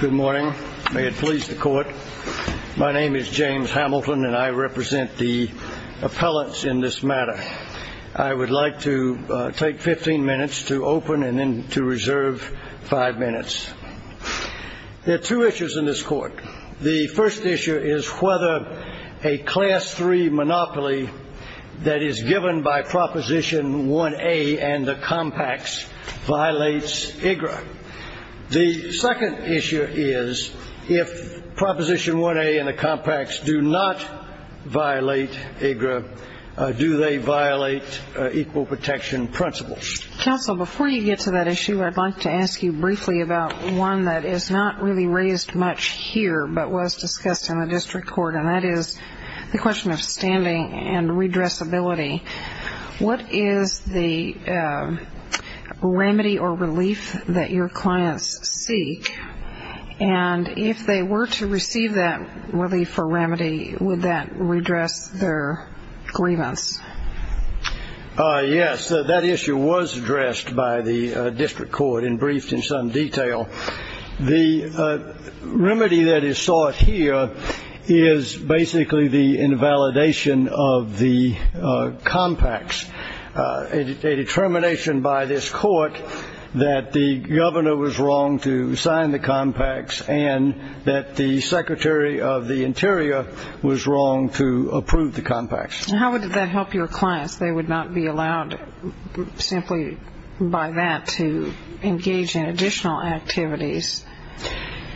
Good morning. May it please the court. My name is James Hamilton and I represent the appellants in this matter. I would like to take 15 minutes to open and then to reserve five minutes. There are two issues in this court. The first issue is whether a class three monopoly that is given by proposition 1A and the compacts violates IGRA. The second issue is if proposition 1A and the compacts do not violate IGRA, do they violate equal protection principles? Counsel, before you get to that issue, I'd like to ask you briefly about one that is not really much raised here but was discussed in the district court, and that is the question of standing and redressability. What is the remedy or relief that your clients seek? And if they were to receive that relief or remedy, would that redress their grievance? Yes, that issue was addressed by the remedy that is sought here is basically the invalidation of the compacts. A determination by this court that the governor was wrong to sign the compacts and that the secretary of the interior was wrong to approve the compacts. How would that help your clients? They would not be allowed simply by that to engage in additional activities.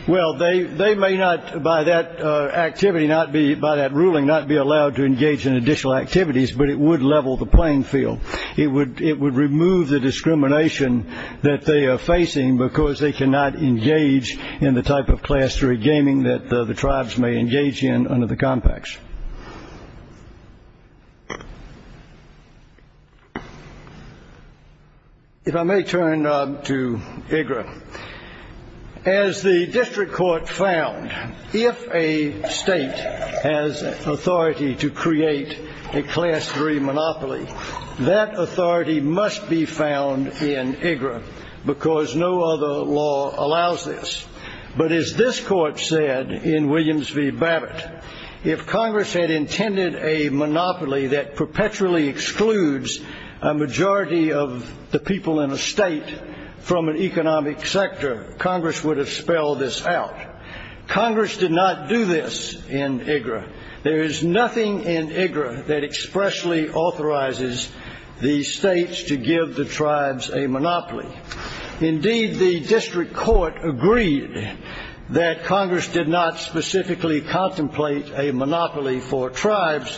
Well, they may not by that ruling not be allowed to engage in additional activities, but it would level the playing field. It would remove the discrimination that they are facing because they cannot engage in the type of class three gaming that the tribes may engage in under the compacts. If I may turn to IGRA. As the district court found, if a state has authority to create a class three monopoly, that authority must be found in IGRA because no other law allows this. But as this court said in Williams v. Babbitt, if Congress had intended a monopoly that perpetually excludes a majority of the people in a state from an economic sector, Congress would have spelled this out. Congress did not do this in IGRA. There is nothing in IGRA that expressly authorizes the states to give the tribes a monopoly. Indeed, the district court agreed that Congress did not specifically contemplate a monopoly for tribes,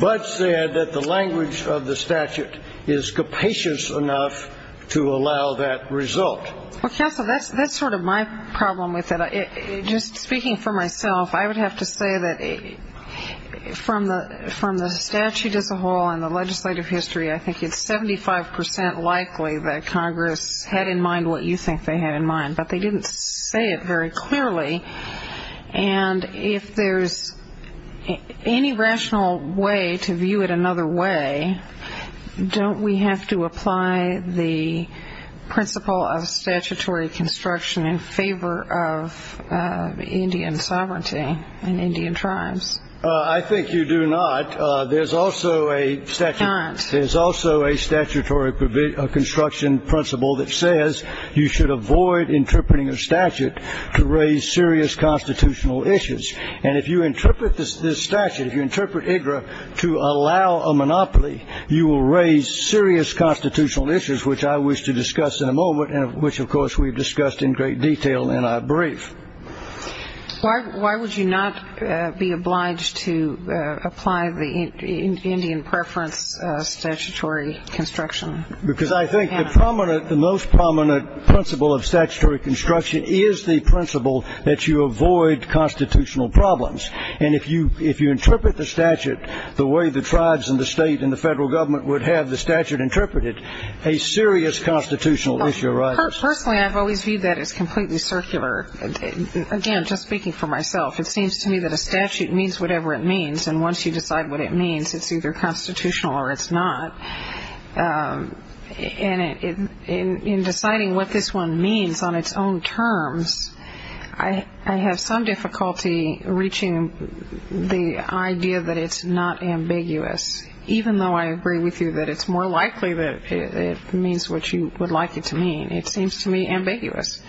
but said that the language of the statute is capacious enough to allow that result. Well, counsel, that's sort of my problem with it. Just speaking for myself, I would have to say that from the statute as a whole and the legislative history, I think it's 75 percent likely that Congress had in mind what you think they had in mind, but they didn't say it very clearly. And if there's any rational way to view it another way, don't we have to apply the principle of statutory construction in favor of Indian sovereignty and Indian tribes? I think you do not. There's also a statutory construction principle that says you should avoid interpreting a statute to raise serious constitutional issues. And if you interpret this statute, if you interpret IGRA to allow a monopoly, you will raise serious constitutional issues, which I wish to discuss in a moment and which, of course, we've discussed in great detail in our brief. Why would you not be obliged to apply the Indian preference statutory construction? Because I think the most prominent principle of statutory construction is the principle that you avoid constitutional problems. And if you interpret the statute the way the tribes and the state and the federal government would have the statute interpreted, a serious constitutional issue arises. Personally, I've always viewed that as completely circular. Again, just speaking for myself, it seems to me that a statute means whatever it means. And once you decide what it means, it's either constitutional or it's not. And in deciding what this one means on its own terms, I have some difficulty reaching the idea that it's not ambiguous, even though I agree with you that it's more likely that it means what you would like it to mean. It seems to me ambiguous.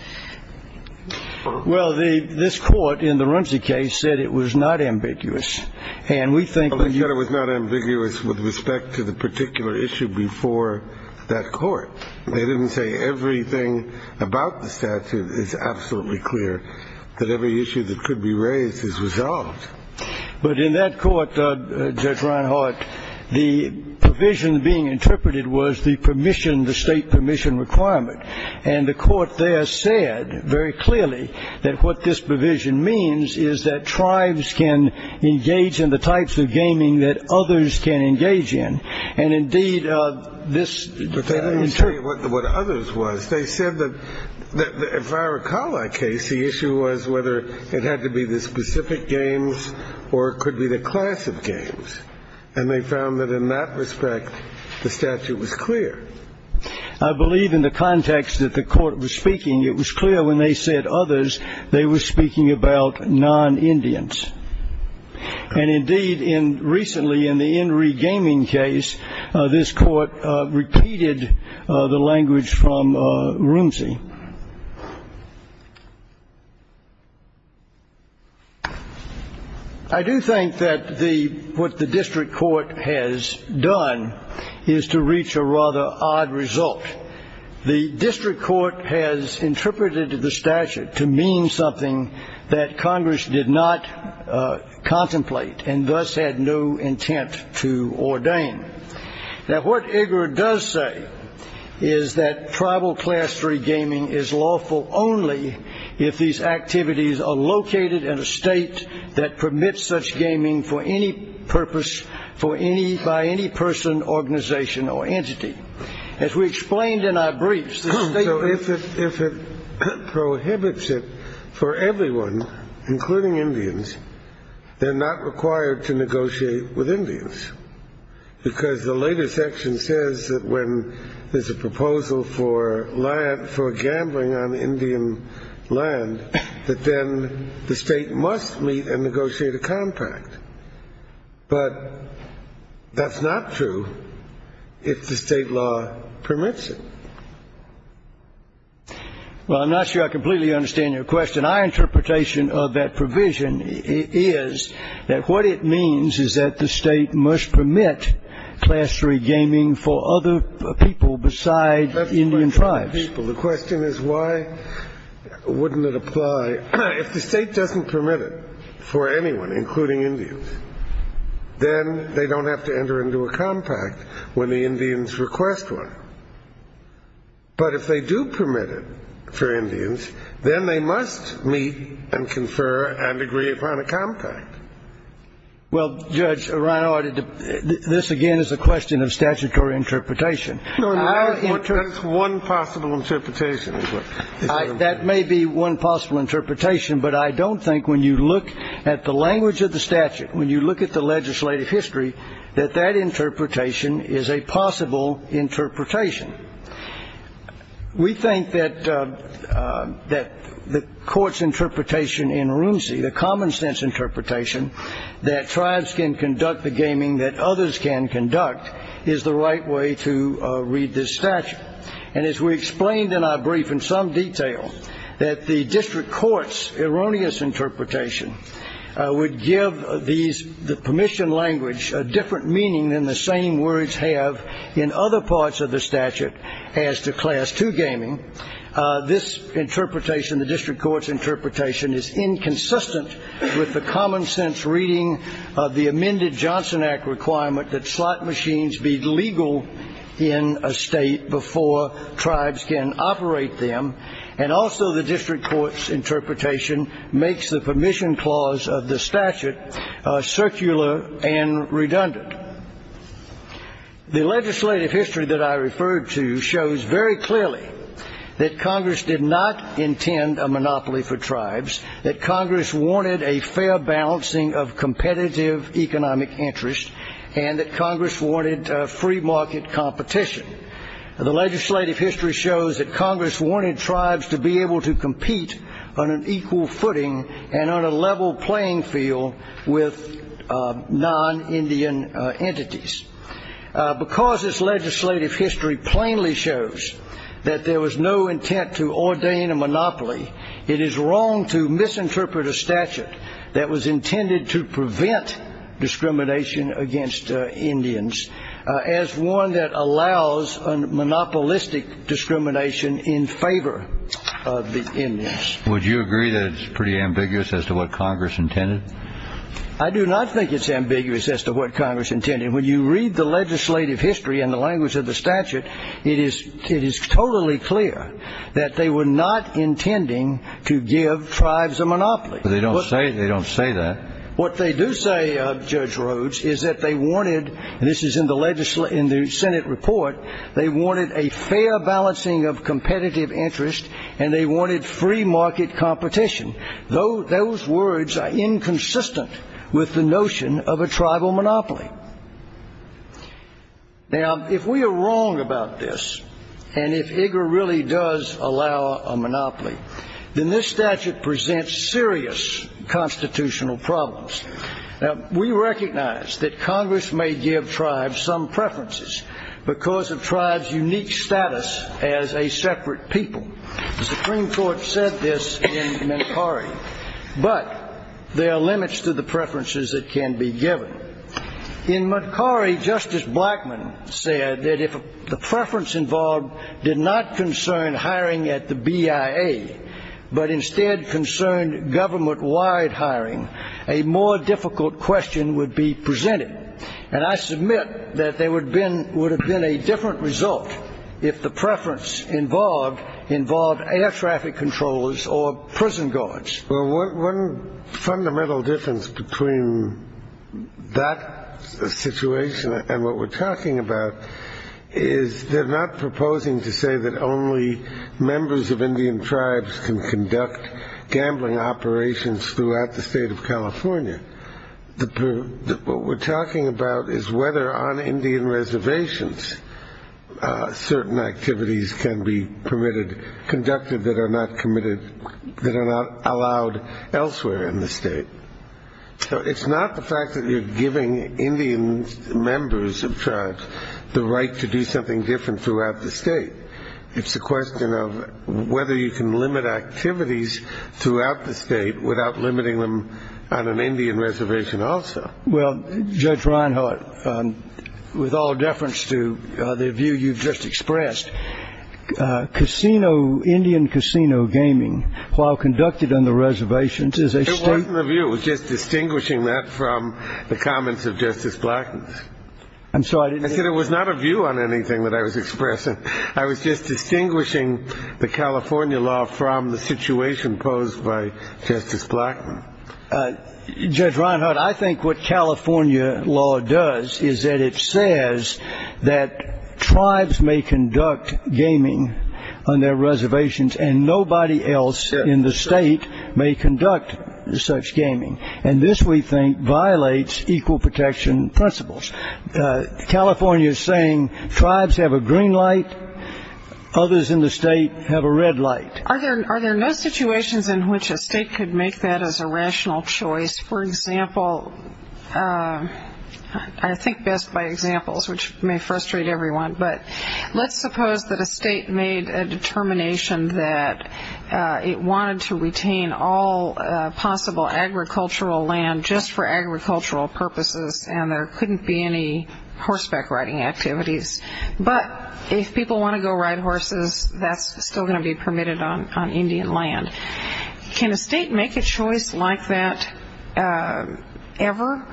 Well, this Court in the Rumsey case said it was not ambiguous. And we think that you I said it was not ambiguous with respect to the particular issue before that Court. They didn't say everything about the statute is absolutely clear, that every issue that could be raised is resolved. But in that Court, Judge Reinhart, the provision being interpreted was the permission, the state permission requirement. And the Court there said very clearly that what this provision means is that tribes can engage in the types of gaming that others can engage in. And, indeed, this But they didn't say what others was. They said that if I recall that case, the issue was whether it had to be the specific games or it could be the class of games. And they found that in that respect, the statute was clear. I believe in the context that the Court was speaking, it was clear when they said others, they were speaking about non-Indians. And, indeed, in recently in the Enry Gaming case, this Court repeated the language from Rumsey. I do think that what the District Court has done is to reach a rather odd result. The District Court has interpreted the statute to mean something that Congress did not contemplate and thus had no intent to ordain. Now, what IGRA does say is that tribal class three gaming is lawful only if these activities are located in a state that permits such gaming for any purpose, for any, by any person, organization, or entity. As we explained in our briefs, the state So if it prohibits it for everyone, including Indians, they're not required to negotiate with Indians. Because the later section says that when there's a proposal for land, for gambling on Indian land, that then the state must meet and negotiate a contract. But that's not true if the state law permits it. Well, I'm not sure I completely understand your question. My interpretation of that provision is that what it means is that the state must permit class three gaming for other people besides Indian tribes. The question is, why wouldn't it apply? If the state doesn't permit it for anyone, including Indians, then they don't have to enter into a compact when the Indians request one. But if they do permit it for Indians, then they must meet and confer and agree upon a compact. Well, Judge, this again is a question of statutory interpretation. That's one possible interpretation. That may be one possible interpretation, but I don't think when you look at the language of the statute, when you look at the legislative history, that that interpretation is a possible interpretation. We think that the court's interpretation in Runcie, the common sense interpretation, that tribes can conduct the gaming that others can conduct, is the right way to read this statute. And as we explained in our brief in some detail, that the district court's erroneous interpretation would give the permission language a different meaning than the same words have in other parts of the statute as to class two gaming. This interpretation, the district court's interpretation, is inconsistent with the common sense reading of the amended Johnson Act requirement that slot machines be legal in a state before tribes can operate them. And also the district court's interpretation makes the permission clause of the statute circular and redundant. The legislative history that I referred to shows very clearly that Congress did not intend a monopoly for tribes, that Congress wanted a fair balancing of competitive economic interest, and that Congress wanted free market competition. The legislative history shows that Congress wanted tribes to be able to compete on an equal footing and on a level playing field with non-Indian entities. Because this legislative history plainly shows that there was no intent to ordain a monopoly, it is wrong to misinterpret a statute that was intended to prevent discrimination against Indians as one that allows a monopolistic discrimination in favor of the Indians. Would you agree that it's pretty ambiguous as to what Congress intended? I do not think it's ambiguous as to what Congress intended. When you read the legislative history in the language of the statute, it is totally clear that they were not intending to give tribes a monopoly. They don't say that. What they do say, Judge Rhodes, is that they wanted, and this is in the Senate report, they wanted a fair balancing of competitive interest and they wanted free market competition. Those words are inconsistent with the notion of a tribal monopoly. Now, if we are wrong about this, and if IGA really does allow a monopoly, then this statute presents serious constitutional problems. Now, we recognize that Congress may give status as a separate people. The Supreme Court said this in Montcari, but there are limits to the preferences that can be given. In Montcari, Justice Blackmun said that if the preference involved did not concern hiring at the BIA, but instead concerned government-wide hiring, a more difficult question would be presented. And I submit that there would have been a different result if the preference involved air traffic controllers or prison guards. Well, one fundamental difference between that situation and what we're talking about is they're not proposing to say that only members of Indian tribes can conduct gambling operations throughout the state of California. What we're talking about is whether on Indian reservations certain activities can be permitted, conducted, that are not committed, that are not allowed elsewhere in the state. So it's not the fact that you're giving Indian members of tribes the right to do something different throughout the state. It's a question of whether you can limit activities throughout the state without limiting them on an Indian reservation also. Well, Judge Reinhart, with all deference to the view you've just expressed, Indian casino gaming, while conducted on the reservations, is a state- It wasn't a view. It was just distinguishing that from the comments of Justice Blackmun. I'm sorry. I said it was not a view on anything that I was expressing. I was just distinguishing the California law from the situation posed by Justice Blackmun. Well, Judge Reinhart, I think what California law does is that it says that tribes may conduct gaming on their reservations and nobody else in the state may conduct such gaming. And this, we think, violates equal protection principles. California is saying tribes have a green light, others in the state have a red light. Are there no situations in which a state could make that as a rational choice? For example, I think best by examples, which may frustrate everyone, but let's suppose that a state made a determination that it wanted to retain all possible agricultural land just for agricultural purposes and there couldn't be any horseback riding activities. But if people want to go horses, that's still going to be permitted on Indian land. Can a state make a choice like that ever?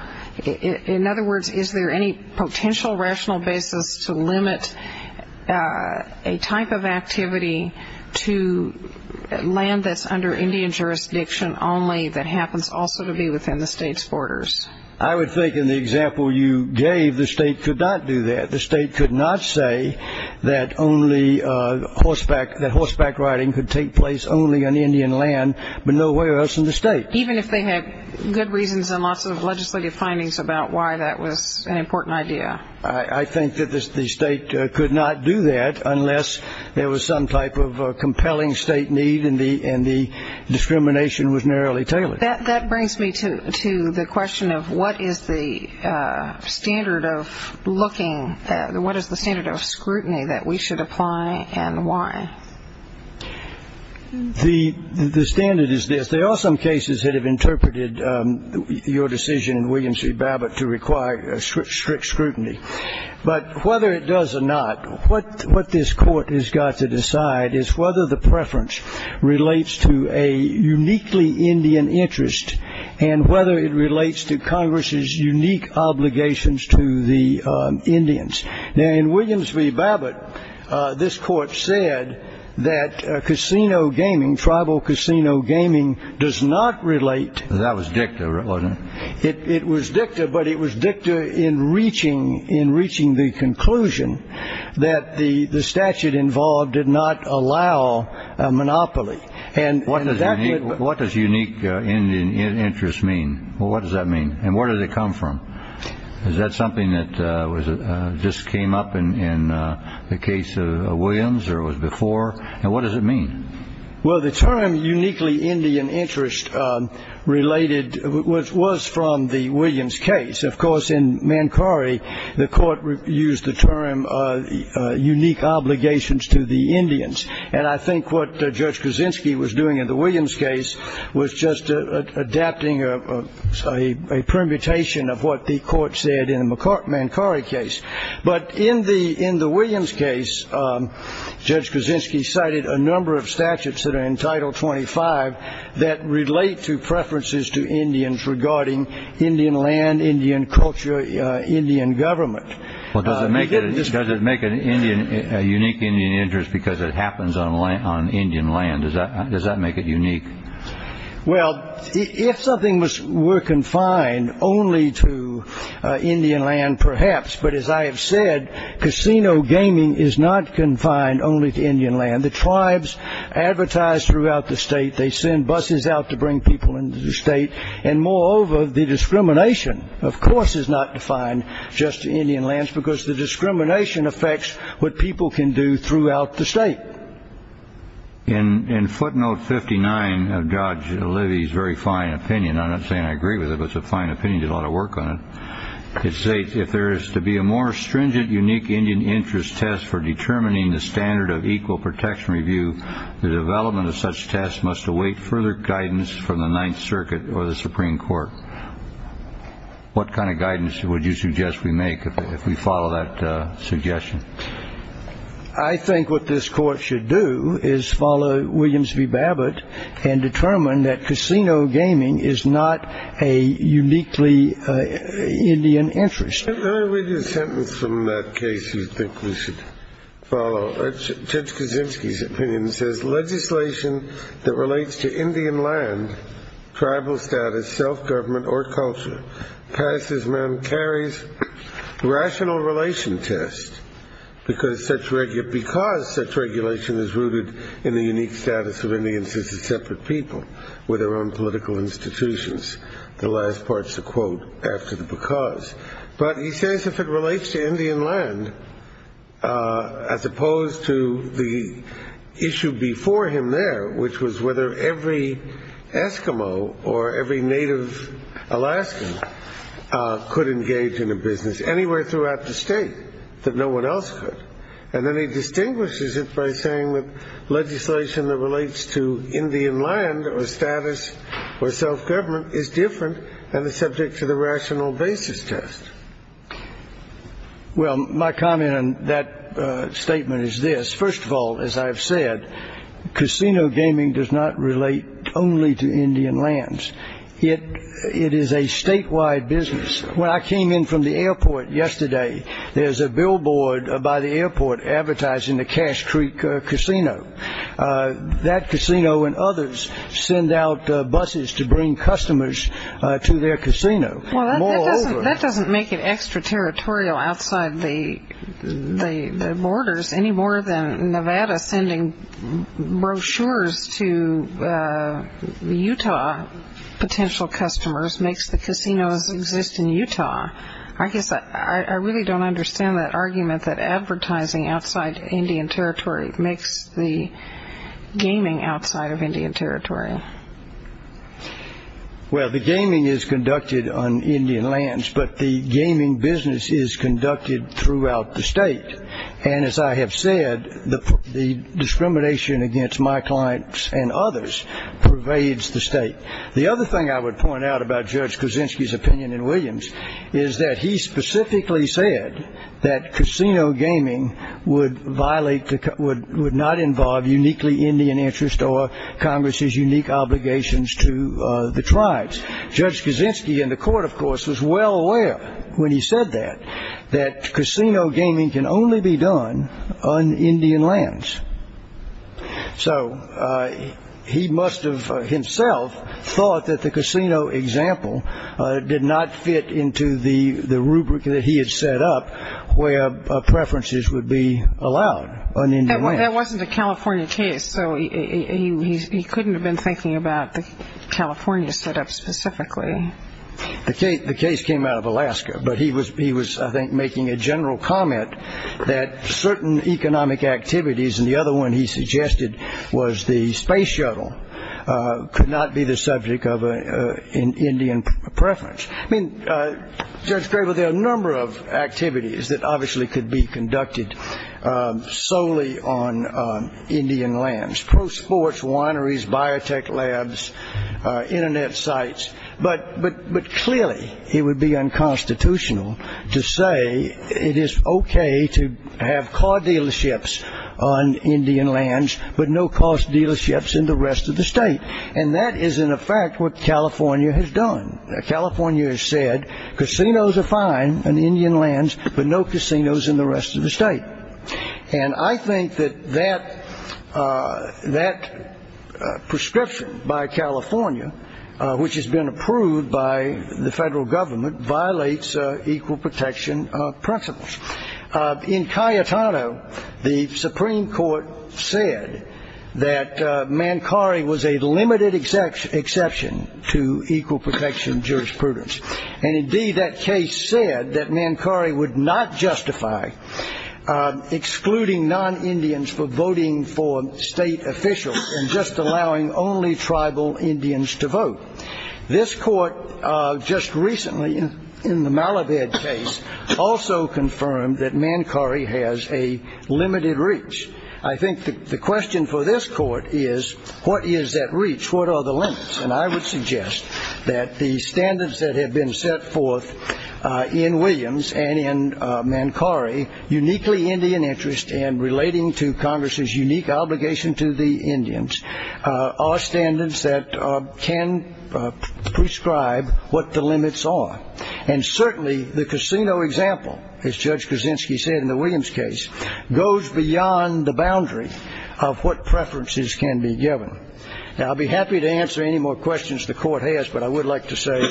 In other words, is there any potential rational basis to limit a type of activity to land that's under Indian jurisdiction only that happens also to be within the state's borders? I would think in the example you gave, the state could not do that. The state could not say that only horseback riding could take place only on Indian land, but nowhere else in the state. Even if they had good reasons and lots of legislative findings about why that was an important idea? I think that the state could not do that unless there was some type of compelling state need and the discrimination was narrowly tailored. That brings me to the question of what is the standard of scrutiny that we should apply and why? The standard is this. There are some cases that have interpreted your decision in William C. Babbitt to require strict scrutiny, but whether it does or not, what this court has got to decide is whether the preference relates to a uniquely Indian interest and whether it relates to Congress unique obligations to the Indians. In Williams v. Babbitt, this court said that casino gaming, tribal casino gaming, does not relate. That was dicta, wasn't it? It was dicta, but it was dicta in reaching the conclusion that the statute involved did not allow monopoly. What does unique Indian interest mean? What does that mean and where does it come from? Is that something that just came up in the case of Williams or was before? What does it mean? The term uniquely Indian interest was from the Williams case. Of course, in Mankari, the court used the term unique obligations to the Indians. I think what Judge Kaczynski was doing in the Williams case was just adapting a permutation of what the court said in the Mankari case. But in the Williams case, Judge Kaczynski cited a number of statutes that are in Title 25 that relate to preferences to Indians regarding Indian land, Indian culture, Indian government. Well, does it make a unique Indian interest because it happens on Indian land? Does that make it unique? Well, if something were confined only to Indian land, perhaps. But as I have said, casino gaming is not confined only to Indian land. The tribes advertise throughout the state. They send buses out to bring people into the state. And moreover, the discrimination, of course, is not defined just to Indian lands because the discrimination affects what people can do throughout the state. In footnote 59 of Judge Levy's very fine opinion, I'm not saying I agree with it, but it's a fine opinion. He did a lot of work on it. It states, if there is to be a more stringent unique Indian interest test for determining the standard of equal protection review, the development of such tests must await further guidance from the Ninth Circuit or the Supreme Court. What kind of guidance would you suggest we make if we follow that suggestion? I think what this court should do is follow Williams v. Babbitt and determine that casino gaming is not a uniquely Indian interest. Let me read you a sentence from that case you think we should follow. Judge Kaczynski's opinion says, legislation that relates to Indian land, tribal status, self-government, or culture, carries rational relation tests because such regulation is rooted in the unique status of Indians as a separate people with their own political institutions. The last part's a quote after the because. But he says if it relates to Indian land, as opposed to the issue before him there, which was whether every Eskimo or every native Alaskan could engage in a business anywhere throughout the state that no one else could. And then he distinguishes it by saying that legislation that relates to Indian land or status or self-government is different than the subject to the rational basis test. Well, my comment on that statement is this. First of all, as I've said, casino gaming does not relate only to Indian lands. It is a statewide business. When I came in from the airport yesterday, there's a billboard by the airport advertising the Cache Creek Casino. That casino and others send out buses to bring customers to their casino. That doesn't make it extraterritorial outside the borders any more than Nevada sending brochures to the Utah potential customers makes the casinos exist in Utah. I guess I really don't understand that argument that advertising outside Indian territory makes the gaming outside of Indian territory. Well, the gaming is conducted on Indian lands, but the gaming business is conducted throughout the state. And as I have said, the discrimination against my clients and others pervades the state. The other thing I would point out about Judge Kuczynski's opinion in Williams is that he specifically said that casino gaming would violate, would not involve uniquely Indian interest or Congress's unique obligations to the tribes. Judge Kuczynski in the court, of course, was well aware when he said that, that casino gaming can only be done on Indian lands. So he must have himself thought that the casino example did not fit into the rubric that he had set up where preferences would be allowed on Indian lands. That wasn't a California case, so he couldn't have been thinking about the California setup specifically. The case came out of Alaska, but he was, I think, making a general comment that certain economic activities, and the other one he suggested was the space shuttle, could not be the subject of an Indian preference. I mean, Judge Craver, there are a number of activities that obviously could be conducted solely on Indian lands. Pro sports, wineries, biotech labs, internet sites, but clearly it would be unconstitutional to say it is okay to have car dealerships on Indian lands, but no-cost dealerships in the rest of the state. And that is, in effect, what California has done. California has said casinos are fine on Indian lands, but no casinos in the rest of the state. And I think that that prescription by California, which has been approved by the federal government, violates equal protection principles. In Cayetano, the Supreme Court said that Mankari was a limited exception to equal protection jurisprudence. And indeed, that case said that Mankari would not only allow tribal Indians to vote. This court just recently, in the Malabed case, also confirmed that Mankari has a limited reach. I think the question for this court is, what is that reach? What are the limits? And I would suggest that the standards that have been set forth in Williams and in Mankari, uniquely Indian interest and relating to Congress's unique obligation to the Indians, are standards that can prescribe what the limits are. And certainly, the casino example, as Judge Kuczynski said in the Williams case, goes beyond the boundary of what preferences can be given. Now, I'll be happy to answer any more questions the court has, but I would like to say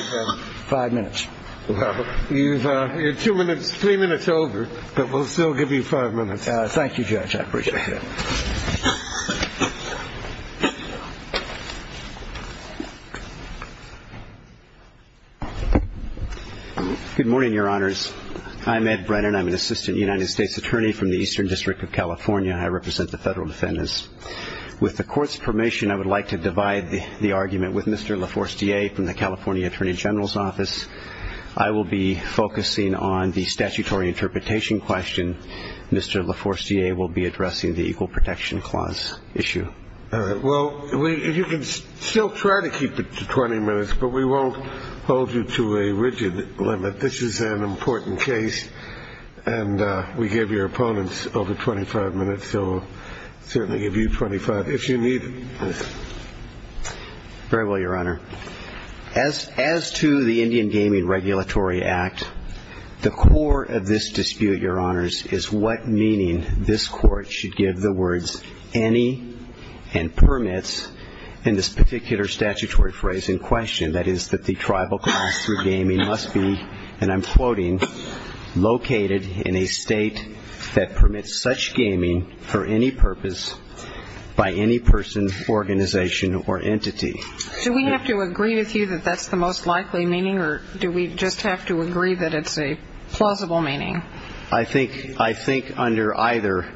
five minutes. Well, you're two minutes, three minutes over, but we'll still give you five minutes. Thank you, Judge. I appreciate it. Ed Brennan Good morning, Your Honors. I'm Ed Brennan. I'm an assistant United States attorney from the Eastern District of California. I represent the federal defendants. With the court's permission, I would like to divide the argument with Mr. LaForestier from the California Attorney General's Office. I will be focusing on the statutory interpretation question. Mr. LaForestier will be addressing the Equal Protection Clause issue. Judge Kuczynski All right. Well, you can still try to keep it to 20 minutes, but we won't hold you to a rigid limit. This is an important case, and we give your opponents over 25 minutes, so we'll certainly give you 25 if you need it. Ed Brennan Very well, Your Honor. As to the Indian Gaming Regulatory Act, the core of this dispute, Your Honors, is what meaning this Court should give the words any and permits in this particular statutory phrase in question, that is, that the tribal class through gaming must be, and I'm quoting, located in a state that permits such gaming for any purpose by any person, organization, or entity. Judge Kuczynski Do we have to agree with you that that's the most likely meaning, or do we just have to agree that it's a plausible meaning? Ed Brennan I think under either,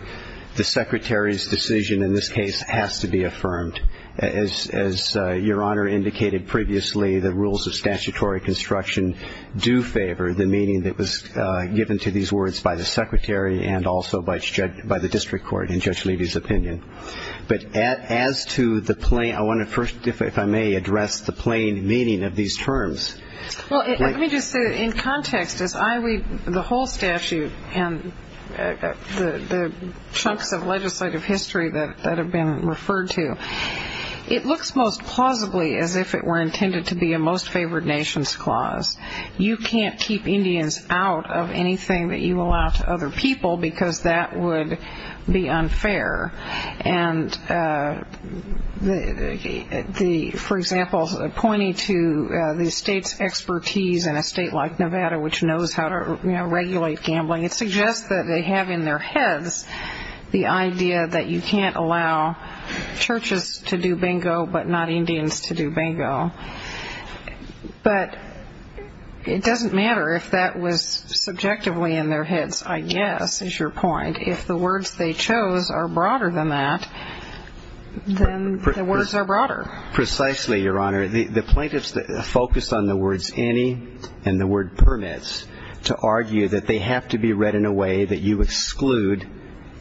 the Secretary's decision in this case has to be affirmed. As Your Honor indicated previously, the rules of statutory construction do favor the meaning that was given to these words by the Secretary and also by the District Court in Judge Levy's opinion. But as to the plain, I want to first, if I may, address the plain meaning of these terms. Judge Kuczynski Well, let me just say, in context, as I read the whole statute and the chunks of legislative history that have been referred to, it looks most plausibly as if it were intended to be a most favored nations clause. You can't keep Indians out of anything that you allow to other people because that would be unfair. And for example, pointing to the state's expertise in a state like Nevada, which knows how to regulate gambling, it suggests that they have in their heads the idea that you can't allow churches to do bingo but not Indians to do bingo. But it doesn't matter if that was subjectively in their heads, I guess, is your point. If the words they chose are broader than that, then the words are broader. Justice Breyer Precisely, Your Honor. The plaintiffs focused on the words any and the word permits to argue that they have to be read in a way that you exclude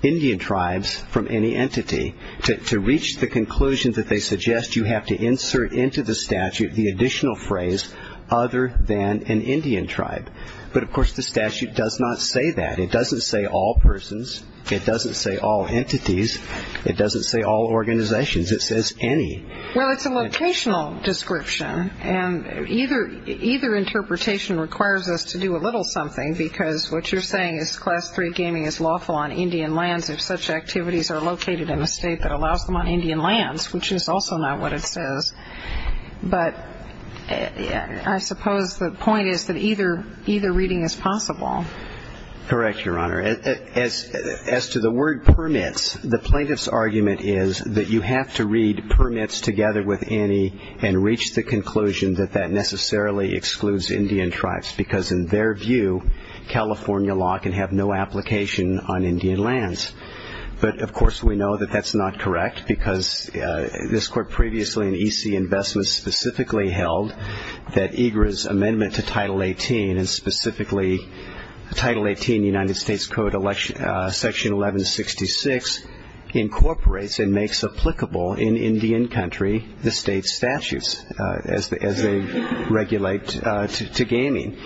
Indian tribes from any entity. To reach the conclusion that they suggest, you have to insert into the statute the additional phrase other than an Indian tribe. But of course, the statute doesn't say that. It doesn't say all persons. It doesn't say all entities. It doesn't say all organizations. It says any. Justice O'Connor Well, it's a locational description, and either interpretation requires us to do a little something because what you're saying is Class III gaming is lawful on Indian lands if such activities are located in a state that allows them on Indian lands, which is also not what it says. But I suppose the point is that either is possible. Justice Breyer Correct, Your Honor. As to the word permits, the plaintiff's argument is that you have to read permits together with any and reach the conclusion that that necessarily excludes Indian tribes because in their view, California law can have no application on Indian lands. But of course, we know that that's not correct because this amendment to Title 18 and specifically Title 18 United States Code Section 1166 incorporates and makes applicable in Indian country the state's statutes as they regulate to gaming.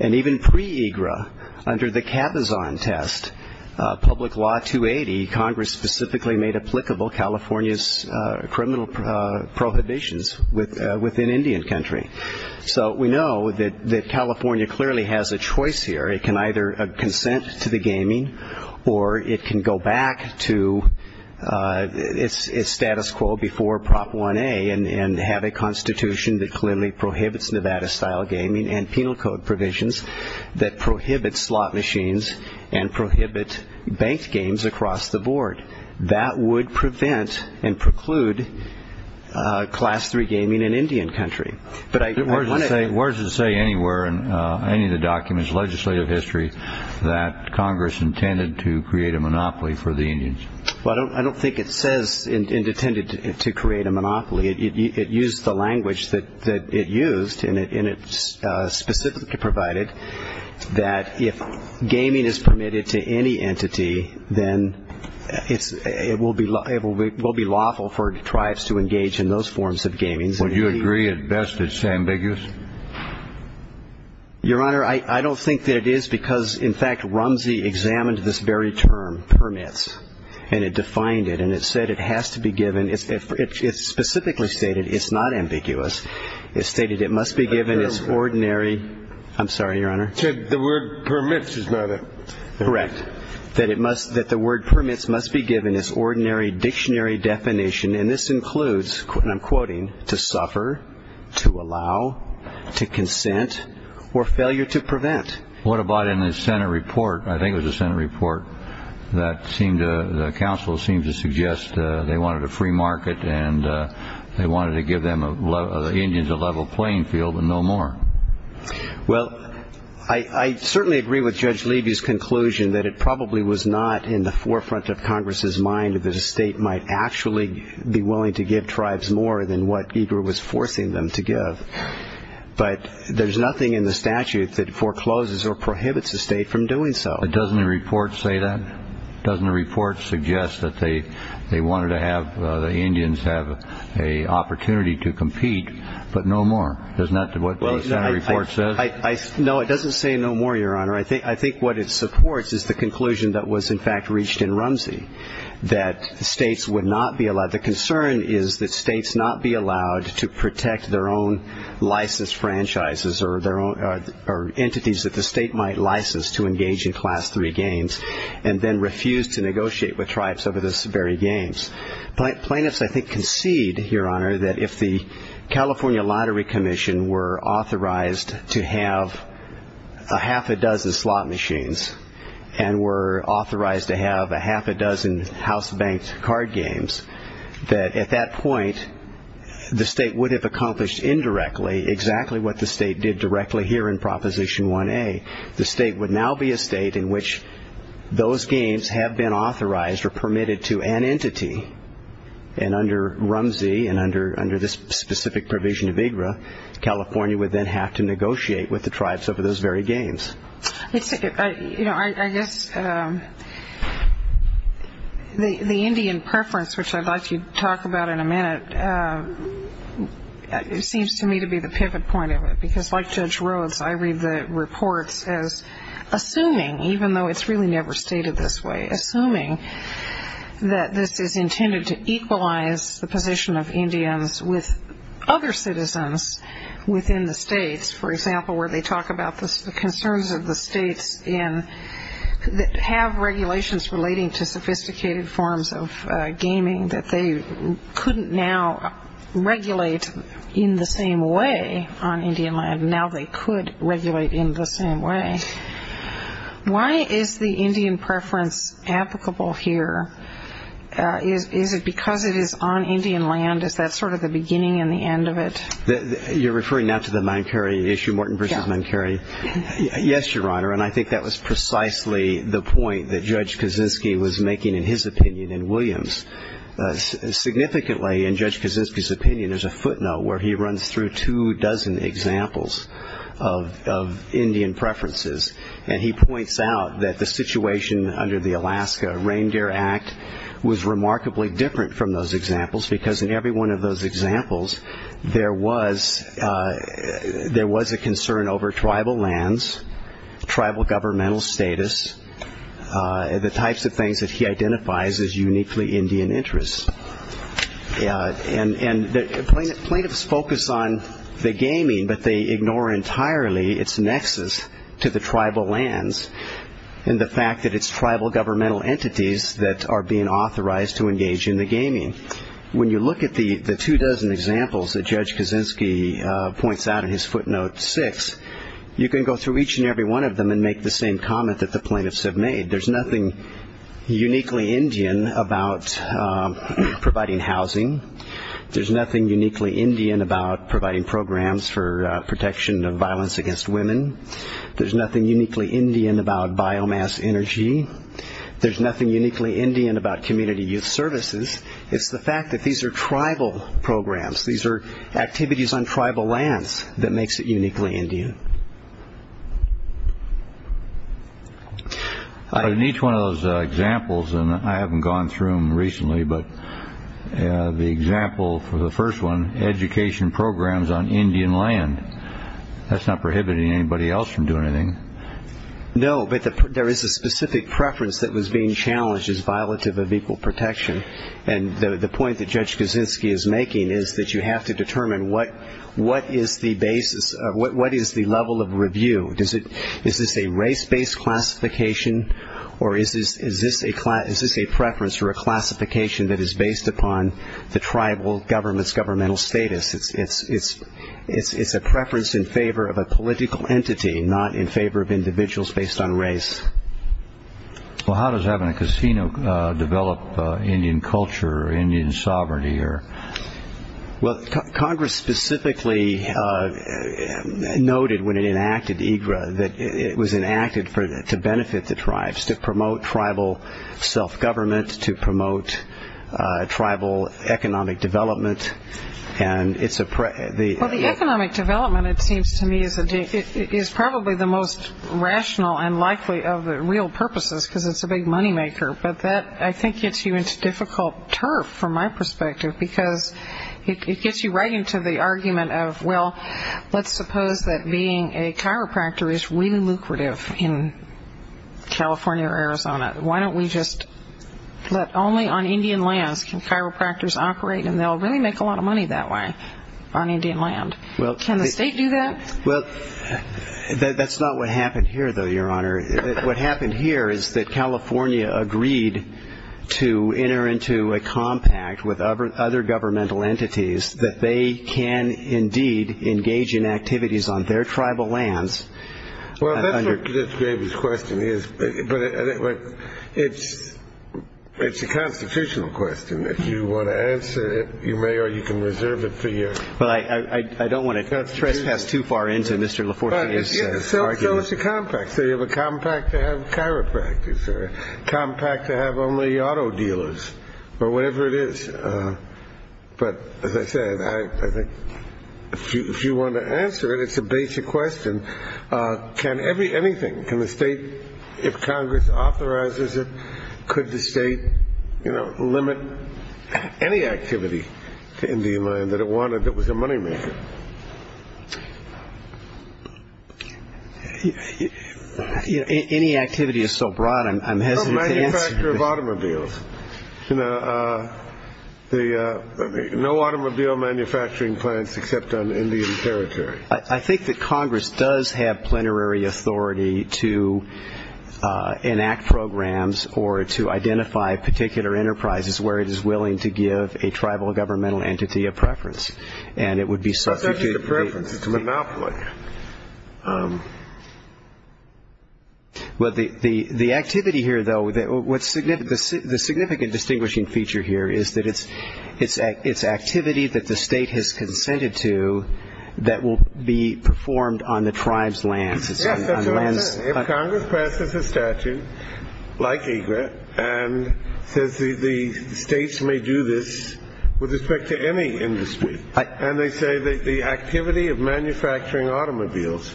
And even pre-EGRA, under the Capazon test, Public Law 280, Congress specifically made applicable California's prohibitions within Indian country. So we know that California clearly has a choice here. It can either consent to the gaming or it can go back to its status quo before Prop 1A and have a constitution that clearly prohibits Nevada-style gaming and penal code provisions that prohibit slot machines and prohibit banked games across the board. That would prevent and preclude Class 3 gaming in Indian country. But I want to... Justice Breyer Where does it say anywhere in any of the documents, legislative history, that Congress intended to create a monopoly for the Indians? Justice Breyer Well, I don't think it says it intended to create a monopoly. It used the language that it used and it specifically provided that if gaming is permitted to any entity, then it will be lawful for tribes to engage in those forms of gaming. Justice Breyer Would you agree at best it's ambiguous? Justice Breyer Your Honor, I don't think that it is because, in fact, Rumsey examined this very term, permits, and it defined it. And it said it has to be given. It specifically stated it's not ambiguous. It stated it must be given its ordinary... Justice Breyer I'm sorry, Your Honor. Justice Breyer The word permits is not it. Justice Breyer Correct. That the word permits must be given its ordinary dictionary definition. And this includes, and I'm quoting, to suffer, to allow, to consent, or failure to prevent. Justice Breyer What about in the Senate report, I think it was the Senate report, that the counsel seemed to suggest they wanted a free market and they wanted to give the Indians a level playing field and no more. Justice Breyer Well, I certainly agree with Judge Levy's conclusion that it probably was not in the forefront of Congress's mind that a state might actually be willing to give tribes more than what EGR was forcing them to give. But there's nothing in the statute that forecloses or prohibits a state from doing so. Justice Breyer But doesn't the report say that? Doesn't the report suggest that they wanted to have the Indians have an opportunity to compete, but no more? Doesn't that... Justice Breyer No, it doesn't say no more, Your Honor. I think what it supports is the conclusion that was in fact reached in Rumsey, that states would not be allowed. The concern is that states not be allowed to protect their own licensed franchises or entities that the state might license to engage in Class III games, and then refuse to negotiate with tribes over those very games. Plaintiffs, I think, concede, Your Honor, that if the California Lottery Commission were authorized to have a half a dozen slot machines, and were authorized to have a half a dozen house-banked card games, that at that point, the state would have accomplished indirectly exactly what the state did directly here in Proposition 1A. The state would now be a state in which those games have been authorized or permitted to an entity. And under Rumsey, and under this specific provision of AGRA, California would then have to negotiate with the tribes over those very games. Justice O'Connor It's... I guess the Indian preference, which I'd like you to talk about in a minute, seems to me to be the pivot point of it. Because like Judge Rhodes, I read the reports as assuming, even though it's really never stated this way, assuming that this is intended to equalize the position of Indians with other citizens within the states. For example, where they talk about the concerns of the states that have regulations relating to sophisticated forms of gaming that they couldn't now regulate in the same way on Indian applicable here, is it because it is on Indian land? Is that sort of the beginning and the end of it? Justice Kennedy You're referring now to the Mancari issue, Morton v. Mancari? Justice O'Connor Yes. Justice Kennedy Yes, Your Honor. And I think that was precisely the point that Judge Kaczynski was making in his opinion in Williams. Significantly, in Judge Kaczynski's opinion, there's a footnote where he runs through two dozen examples of Indian preferences. And he points out that the situation under the Alaska Reindeer Act was remarkably different from those examples. Because in every one of those examples, there was a concern over tribal lands, tribal governmental status, the types of things that he identifies as uniquely Indian interests. And plaintiffs focus on the gaming, but they ignore entirely its nexus to the tribal lands and the fact that it's tribal governmental entities that are being authorized to engage in the gaming. When you look at the two dozen examples that Judge Kaczynski points out in his footnote six, you can go through each and every one of them and make the same comment that the providing housing, there's nothing uniquely Indian about providing programs for protection of violence against women. There's nothing uniquely Indian about biomass energy. There's nothing uniquely Indian about community youth services. It's the fact that these are tribal programs. These are activities on tribal lands that makes it uniquely Indian. In each one of those examples, and I haven't gone through them recently, but the example for the first one, education programs on Indian land, that's not prohibiting anybody else from doing anything. No, but there is a specific preference that was being challenged as violative of equal protection. And the point that Judge Kaczynski is making is that you have to determine what is the basis, what is the level of review? Is this a race-based classification or is this a preference or a classification that is based upon the tribal government's governmental status? It's a preference in favor of a political entity, not in favor of individuals based on race. Well, how does having a casino develop Indian culture or Indian sovereignty? Well, Congress specifically noted when it enacted EGRA that it was enacted to benefit the tribes, to promote tribal self-government, to promote tribal economic development. The economic development, it seems to me, is probably the most rational and likely of the real purposes because it's a big moneymaker. But that, I think, gets you into difficult turf, from my perspective, because it gets you right into the argument of, well, let's suppose that being a chiropractor is really lucrative in California or Arizona. Why don't we just let only on Indian lands can chiropractors operate? And they'll really make a lot of money that way on Indian land. Can the state do that? Well, that's not what happened here, Your Honor. What happened here is that California agreed to enter into a compact with other governmental entities that they can indeed engage in activities on their tribal lands. Well, that's what Mr. Gravey's question is, but it's a constitutional question. If you want to answer it, you may or you can reserve it for you. But I don't want to trespass too far into Mr. Compact. So you have a compact to have chiropractors or a compact to have only auto dealers or whatever it is. But as I said, I think if you want to answer it, it's a basic question. Can anything, can the state, if Congress authorizes it, could the state limit any activity to Indian land that was a moneymaker? Any activity is so broad, I'm hesitant to answer. No automobiles. No automobile manufacturing plants except on Indian territory. I think that Congress does have plenary authority to enact programs or to identify particular enterprises where it is and it would be substituted. It's actually a preference. It's a monopoly. Well, the activity here, though, what's significant, the significant distinguishing feature here is that it's activity that the state has consented to that will be performed on the tribe's lands. Yes, that's what I'm saying. If Congress passes a statute like EGLET and says the states may do this with respect to any industry and they say that the activity of manufacturing automobiles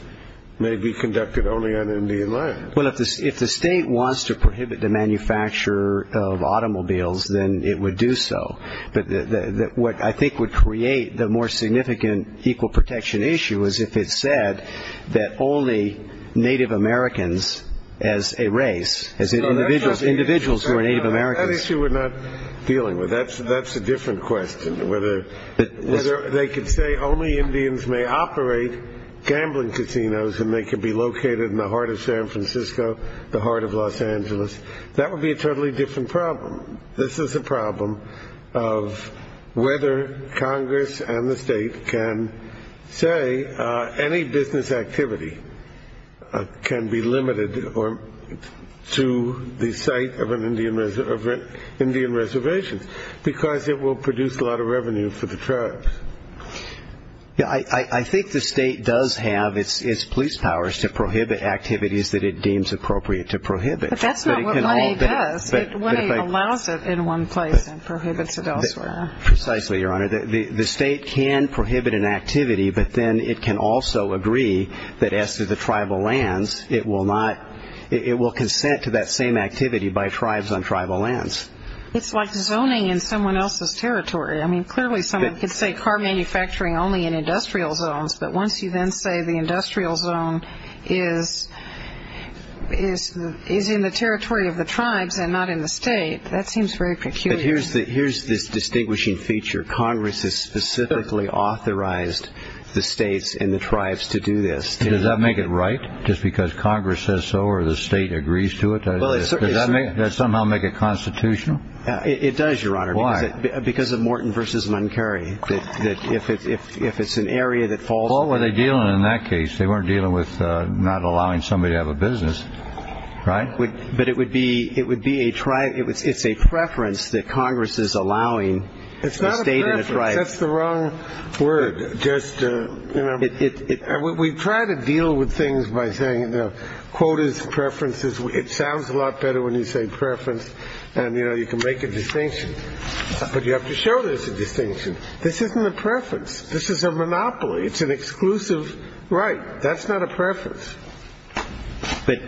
may be conducted only on Indian land. Well, if the state wants to prohibit the manufacture of automobiles, then it would do so. But what I think would create the more significant equal protection issue is if it said that only Native Americans as a race, individuals who are Native Americans. That issue we're not dealing with. That's a different question. Whether they could say only Indians may operate gambling casinos and they could be located in the heart of San Francisco, the heart of Los Angeles. That would be a totally different problem. This is a problem of whether Congress and the state can say any business activity can be limited to the site of an Indian reservation because it will produce a lot of revenue for the tribes. Yeah, I think the state does have its police powers to prohibit activities that it deems appropriate to prohibit. But that's not what money does. It allows it in one place and prohibits it elsewhere. Precisely, Your Honor. The state can prohibit an activity, but then it can also agree that as to the tribal lands, it will consent to that same activity by tribes on tribal lands. It's like zoning in someone else's territory. I mean, clearly someone could say car manufacturing only in industrial zones, but once you then say the industrial zone is in the territory of the tribes and not in the state, that seems very peculiar. But here's this distinguishing feature. Congress has specifically authorized the states and the tribes to do this. Does that make it right? Just because Congress says so or the state agrees to it? Does that somehow make it constitutional? It does, Your Honor. Why? Because of Morton v. Muncarry. If it's an area that falls... What were they dealing in that case? They weren't dealing with not allowing somebody to have a It's not a preference. That's the wrong word. We try to deal with things by saying the quotas, preferences. It sounds a lot better when you say preference. And, you know, you can make a distinction. But you have to show there's a distinction. This isn't a preference. This is a monopoly. It's an exclusive right. That's not a preference. But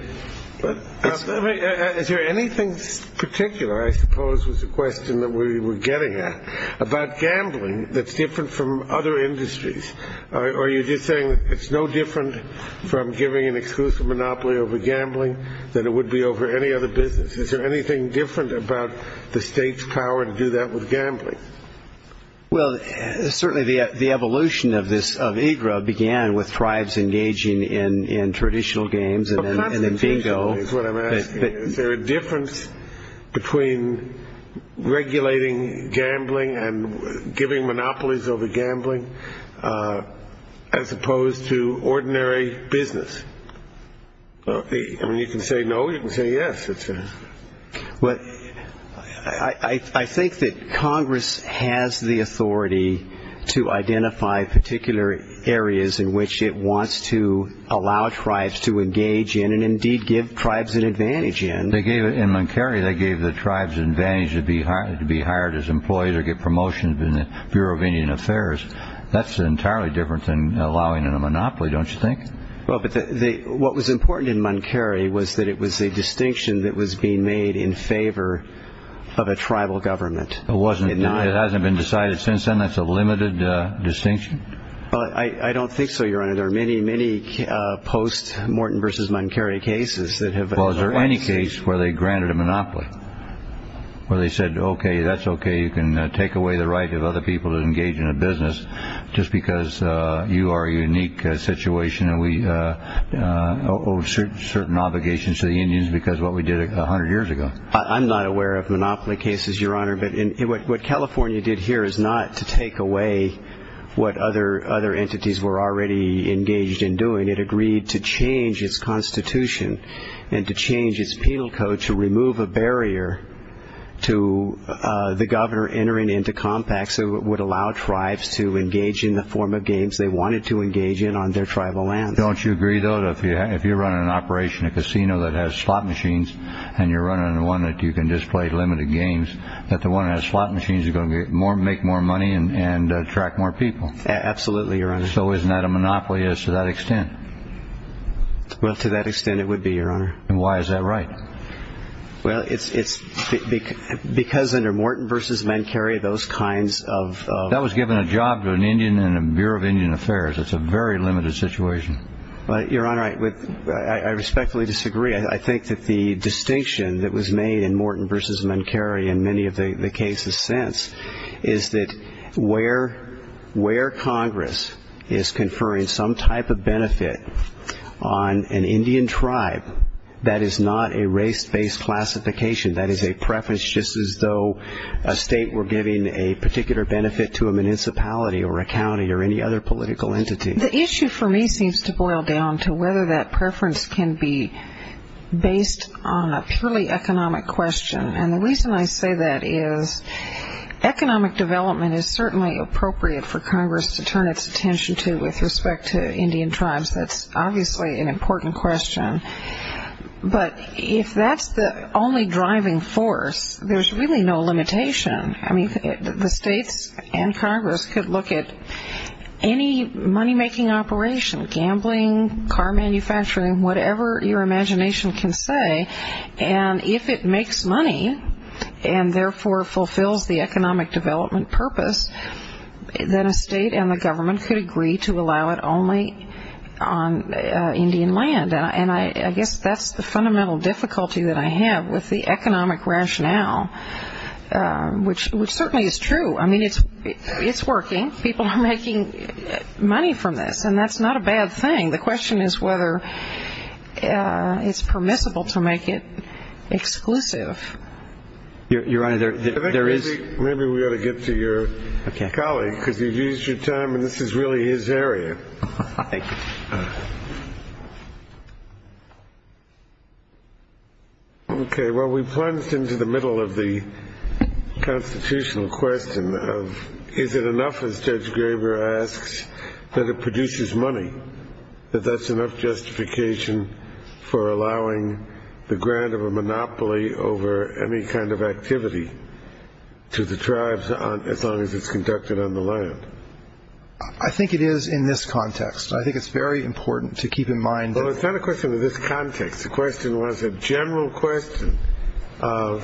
is there anything particular, I suppose, was a question that we were getting at about gambling that's different from other industries? Are you just saying it's no different from giving an exclusive monopoly over gambling than it would be over any other business? Is there anything different about the state's power to do that with gambling? Well, certainly the evolution of this, of IGRA, began with tribes engaging in regulating gambling and giving monopolies over gambling as opposed to ordinary business. I mean, you can say no. You can say yes. I think that Congress has the authority to identify particular areas in which it wants to allow tribes to engage in and indeed give tribes the advantage to be hired as employees or get promotions in the Bureau of Indian Affairs. That's entirely different than allowing in a monopoly, don't you think? Well, but what was important in Monterrey was that it was a distinction that was being made in favor of a tribal government. It hasn't been decided since then? That's a limited distinction? Well, I don't think so, Your Honor. There are many, many post-Morton v. Monterrey cases that granted a monopoly where they said, okay, that's okay. You can take away the right of other people to engage in a business just because you are a unique situation and we owe certain obligations to the Indians because of what we did 100 years ago. I'm not aware of monopoly cases, Your Honor, but what California did here is not to take away what other entities were already engaged in doing. It agreed to change its constitution and to change its penal code to remove a barrier to the governor entering into compacts that would allow tribes to engage in the form of games they wanted to engage in on their tribal lands. Don't you agree, though, that if you're running an operation, a casino that has slot machines and you're running one that you can just play limited games, that the one that has slot machines is going to make more money and attract more people? Absolutely, Your Honor. So isn't that a monopoly to that extent? Well, to that extent it would be, Your Honor. And why is that right? Well, it's because under Morton v. Monterrey, those kinds of... That was given a job to an Indian in the Bureau of Indian Affairs. It's a very limited situation. Your Honor, I respectfully disagree. I think that the distinction that was made in Morton v. Monterrey and many of the cases since is that where Congress is conferring some type of benefit on an Indian tribe, that is not a race-based classification. That is a preference just as though a state were giving a particular benefit to a municipality or a county or any other political entity. The issue for me seems to boil down to whether that preference can be based on a purely economic question. And the reason I say that is economic development is certainly appropriate for Congress to turn its attention to with respect to Indian tribes. That's obviously an important question. But if that's the only driving force, there's really no limitation. I mean, the states and Congress could look at any money-making operation, gambling, car manufacturing, whatever your imagination can say, and if it makes money and therefore fulfills the economic development purpose, then a state and the government could agree to allow it only on Indian land. And I guess that's the fundamental difficulty that I have with the economic rationale, which certainly is true. I mean, it's working. People are making money from this. And that's not a bad thing. The question is whether it's permissible to make it exclusive. Your Honor, there is – Maybe we ought to get to your colleague, because you've used your time and this is really his area. Okay. Well, we plunged into the middle of the constitutional question of is it enough, as Judge Sotomayor said, that it produces money, that that's enough justification for allowing the grant of a monopoly over any kind of activity to the tribes as long as it's conducted on the land? I think it is in this context. I think it's very important to keep in mind that – Well, it's not a question of this context. The question was a general question of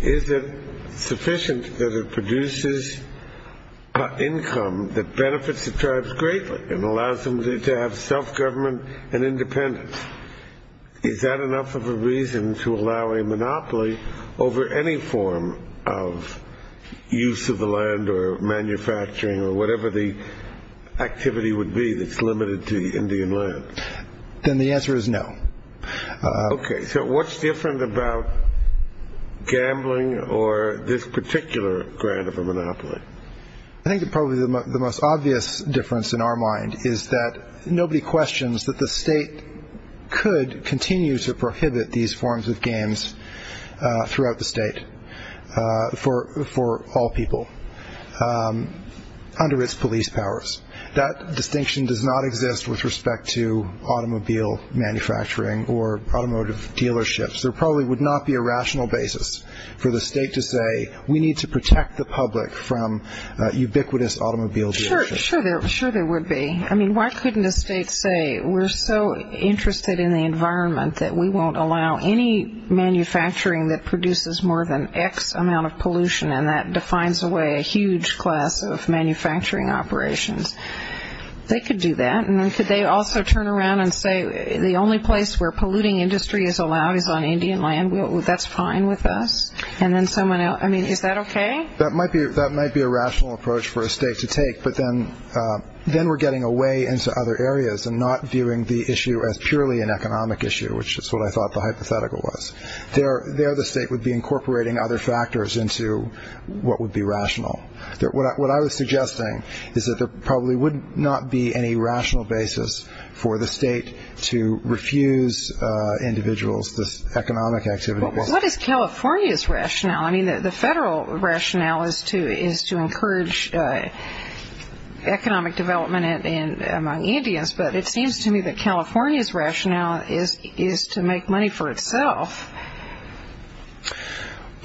is it sufficient that it produces income that benefits the tribes greatly and allows them to have self-government and independence. Is that enough of a reason to allow a monopoly over any form of use of the land or manufacturing or whatever the activity would be that's limited to Indian land? Then the answer is no. Okay. So what's different about gambling or this particular grant of a monopoly? I think probably the most obvious difference in our mind is that nobody questions that the state could continue to prohibit these forms of games throughout the state for all people under its police powers. That distinction does not exist with respect to automobile manufacturing or automotive dealerships. There probably would not be a rational basis for the state to say we need to protect the public from ubiquitous automobile dealerships. Sure, sure there would be. I mean, why couldn't a state say we're so interested in the environment that we won't allow any manufacturing that produces more than X amount of pollution and that defines away a huge class of manufacturing operations? They could do that. And then could also turn around and say the only place where polluting industry is allowed is on Indian land. That's fine with us. And then someone else. I mean, is that okay? That might be that might be a rational approach for a state to take. But then we're getting away into other areas and not viewing the issue as purely an economic issue, which is what I thought the hypothetical was. There the state would be incorporating other factors into what would be rational. What I was suggesting is that there probably would not be any rational basis for the state to refuse individuals this economic activity. What is California's rationale? I mean, the federal rationale is to is to encourage economic development in among Indians. But it seems to me that California's rationale is is to make money for itself.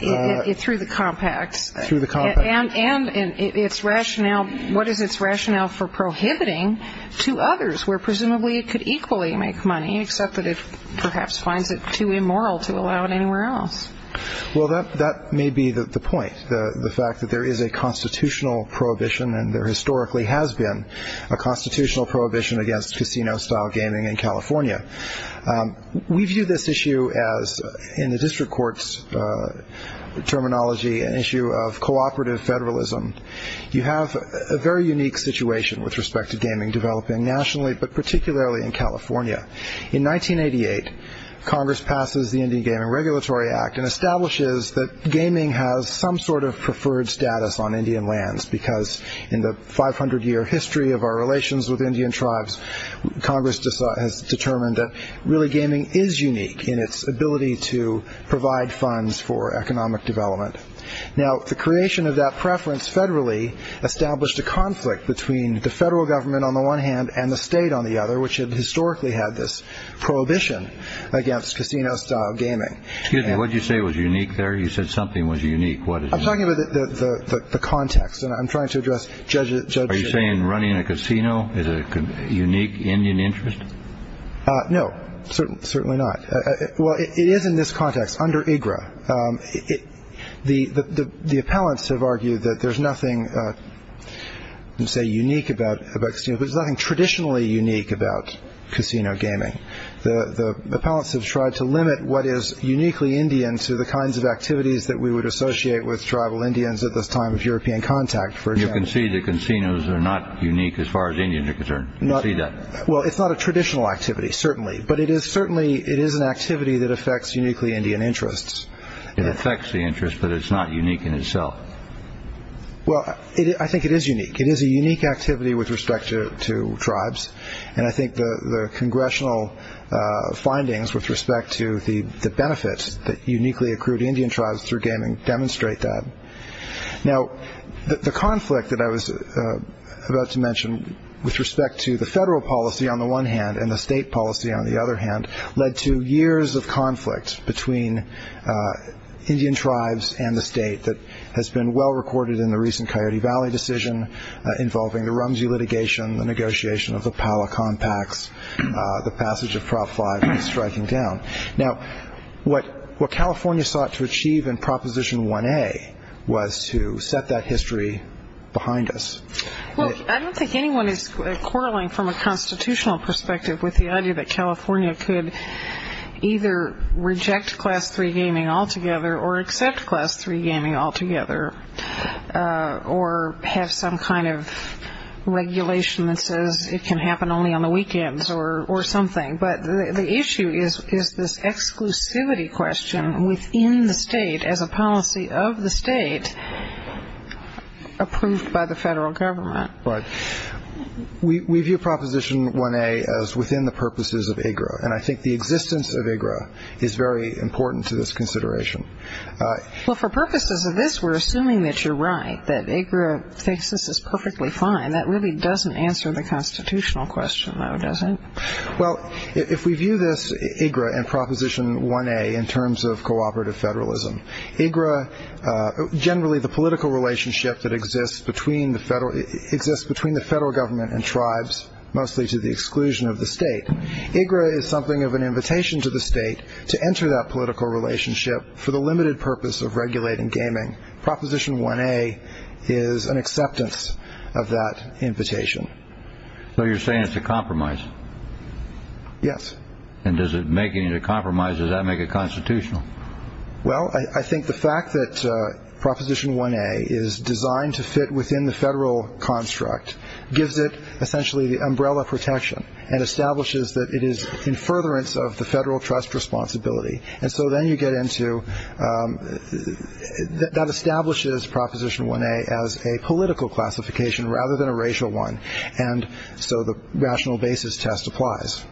It's through the compacts, through the compact and its rationale. What is its rationale for prohibiting to others where presumably it could equally make money, except that it perhaps finds it too immoral to allow it anywhere else? Well, that that may be the point. The fact that there is a constitutional prohibition, and there historically has been a constitutional prohibition against casino style gaming in California. We view this issue as in the district court's terminology, an issue of cooperative federalism. You have a very unique situation with respect to gaming developing nationally, but particularly in California. In 1988, Congress passes the Indian Gaming Regulatory Act and establishes that gaming has some sort of preferred status on Indian lands, because in the 500 year history of our relations with Indian tribes, Congress has determined that really gaming is unique in its ability to provide funds for economic development. Now, the creation of that preference federally established a conflict between the federal government on the one hand and the state on the other, which had historically had this prohibition against casino style gaming. Excuse me, what did you say was unique there? You said something was unique. What is it? I'm talking about the context and I'm trying to address judges. Are you saying running a casino is a unique Indian interest? No, certainly not. Well, it is in this context under IGRA. The appellants have argued that there's nothing unique about, there's nothing traditionally unique about casino gaming. The appellants have tried to limit what is uniquely Indian to the kinds of activities that we would associate with tribal Indians at this time of European contact. You can see the casinos are not unique as far as Indians are concerned. You can see that. Well, it's not a traditional activity, certainly, but it is certainly, it is an activity that affects uniquely Indian interests. It affects the interest, but it's not unique in itself. Well, I think it is unique. It is a unique activity with respect to tribes. And I think the congressional findings with respect to the benefits that uniquely accrued Indian tribes through gaming demonstrate that. Now, the conflict that I was about to mention with respect to the state policy, on the other hand, led to years of conflict between Indian tribes and the state that has been well-recorded in the recent Coyote Valley decision involving the Rumsey litigation, the negotiation of the Palacon Pacts, the passage of Prop 5 striking down. Now, what California sought to achieve in Proposition 1A was to set that history behind us. Well, I don't think anyone is quarreling from a constitutional perspective with the idea that California could either reject Class 3 gaming altogether or accept Class 3 gaming altogether or have some kind of regulation that says it can happen only on the weekends or something. But the issue is this exclusivity question within the state as a policy of the state is approved by the federal government. Right. We view Proposition 1A as within the purposes of IGRA. And I think the existence of IGRA is very important to this consideration. Well, for purposes of this, we're assuming that you're right, that IGRA thinks this is perfectly fine. That really doesn't answer the constitutional question, though, does it? Well, if we view this IGRA and Proposition 1A in terms of cooperative federalism, IGRA generally the political relationship that exists between the federal government and tribes, mostly to the exclusion of the state, IGRA is something of an invitation to the state to enter that political relationship for the limited purpose of regulating gaming. Proposition 1A is an acceptance of that invitation. So you're saying it's a compromise? Yes. And does it make it a compromise? Does that make it constitutional? Well, I think the fact that Proposition 1A is designed to fit within the federal construct gives it essentially the umbrella protection and establishes that it is in furtherance of the federal trust responsibility. And so then you get into that establishes Proposition 1A as a political classification rather than a racial one. And so the rational basis test applies.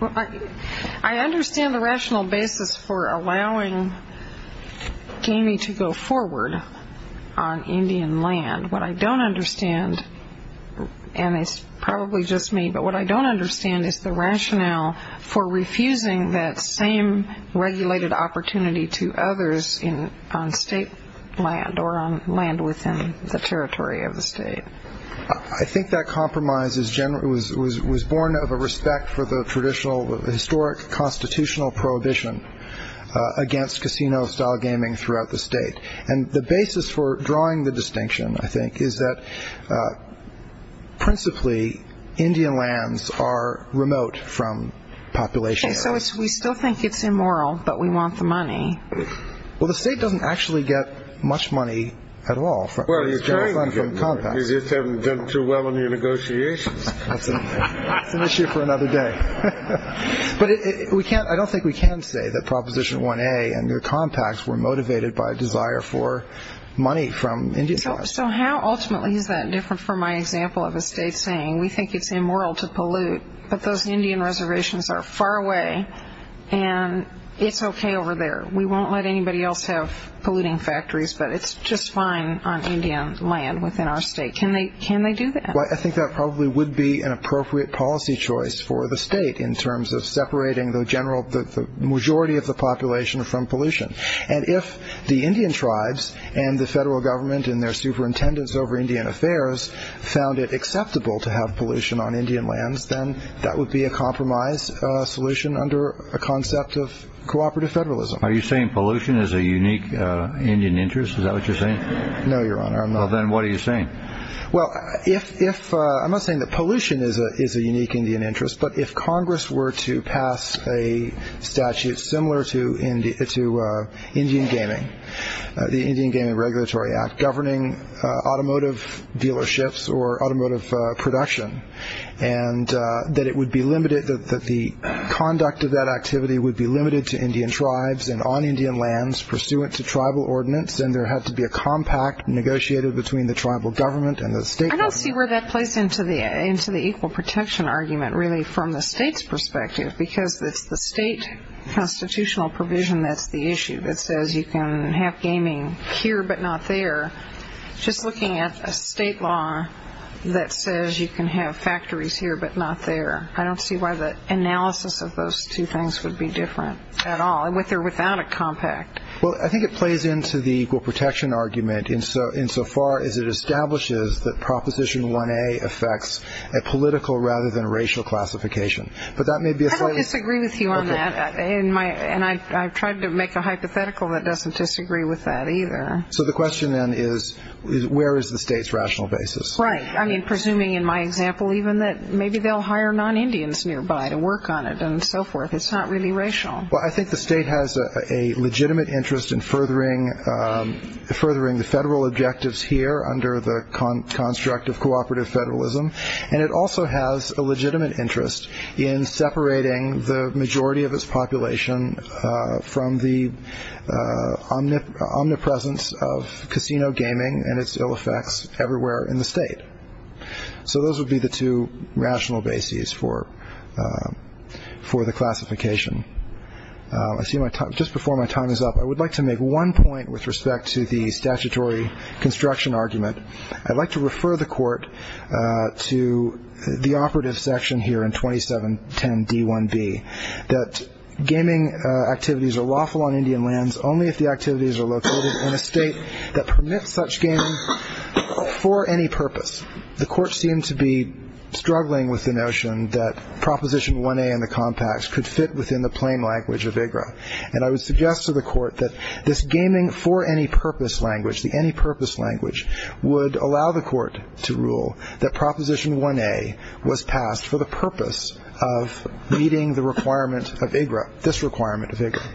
Well, I understand the rational basis for allowing gaming to go forward on Indian land. What I don't understand, and it's probably just me, but what I don't understand is the rationale for refusing that same regulated opportunity to others on state land or on land within the state. It was born of a respect for the traditional historic constitutional prohibition against casino-style gaming throughout the state. And the basis for drawing the distinction, I think, is that principally Indian lands are remote from population. So we still think it's immoral, but we want the money. Well, the state doesn't actually get much money at all. Well, you're trying to get money. You just haven't done too well in your negotiations. It's an issue for another day. But I don't think we can say that Proposition 1A and their compacts were motivated by a desire for money from Indian lands. So how ultimately is that different from my example of a state saying, we think it's immoral to pollute, but those Indian reservations are far away and it's okay over there. We won't let anybody else have Indian land within our state. Can they do that? Well, I think that probably would be an appropriate policy choice for the state in terms of separating the majority of the population from pollution. And if the Indian tribes and the federal government and their superintendents over Indian affairs found it acceptable to have pollution on Indian lands, then that would be a compromise solution under a concept of cooperative federalism. Are you saying pollution is a unique Indian interest? Is that what you're saying? No, Your Honor, I'm not. Then what are you saying? Well, if I'm not saying that pollution is a unique Indian interest, but if Congress were to pass a statute similar to Indian Gaming, the Indian Gaming Regulatory Act governing automotive dealerships or automotive production, and that it would be limited, that the conduct of that activity would be limited to Indian tribes and on Indian lands pursuant to tribal ordinance, then there had to be a compact negotiated between the tribal government and the state. I don't see where that plays into the equal protection argument really from the state's perspective because it's the state constitutional provision that's the issue that says you can have gaming here but not there. Just looking at a state law that says you can have factories here but not there, I don't see why the analysis of those two things would be different at all, with or without a compact. Well, I think it plays into the equal protection argument insofar as it establishes that Proposition 1A affects a political rather than racial classification. But that may be a slightly... I don't disagree with you on that. And I've tried to make a hypothetical that doesn't disagree with that either. So the question then is, where is the state's rational basis? Right. I mean, presuming in my example even that maybe they'll hire non-Indians nearby to work on it and so forth. It's not really racial. I think the state has a legitimate interest in furthering the federal objectives here under the construct of cooperative federalism. And it also has a legitimate interest in separating the majority of its population from the omnipresence of casino gaming and its ill effects everywhere in the state. So those would be the two rational bases for the classification. I see my time... just before my time is up, I would like to make one point with respect to the statutory construction argument. I'd like to refer the Court to the operative section here in 2710 D1B, that gaming activities are lawful on Indian lands only if the activities are located in a state that permits such gaming for any purpose. The Court seemed to be struggling with the notion that Proposition 1A and the compacts would fit within the plain language of IGRA. And I would suggest to the Court that this gaming for any purpose language, the any purpose language, would allow the Court to rule that Proposition 1A was passed for the purpose of meeting the requirement of IGRA, this requirement of IGRA.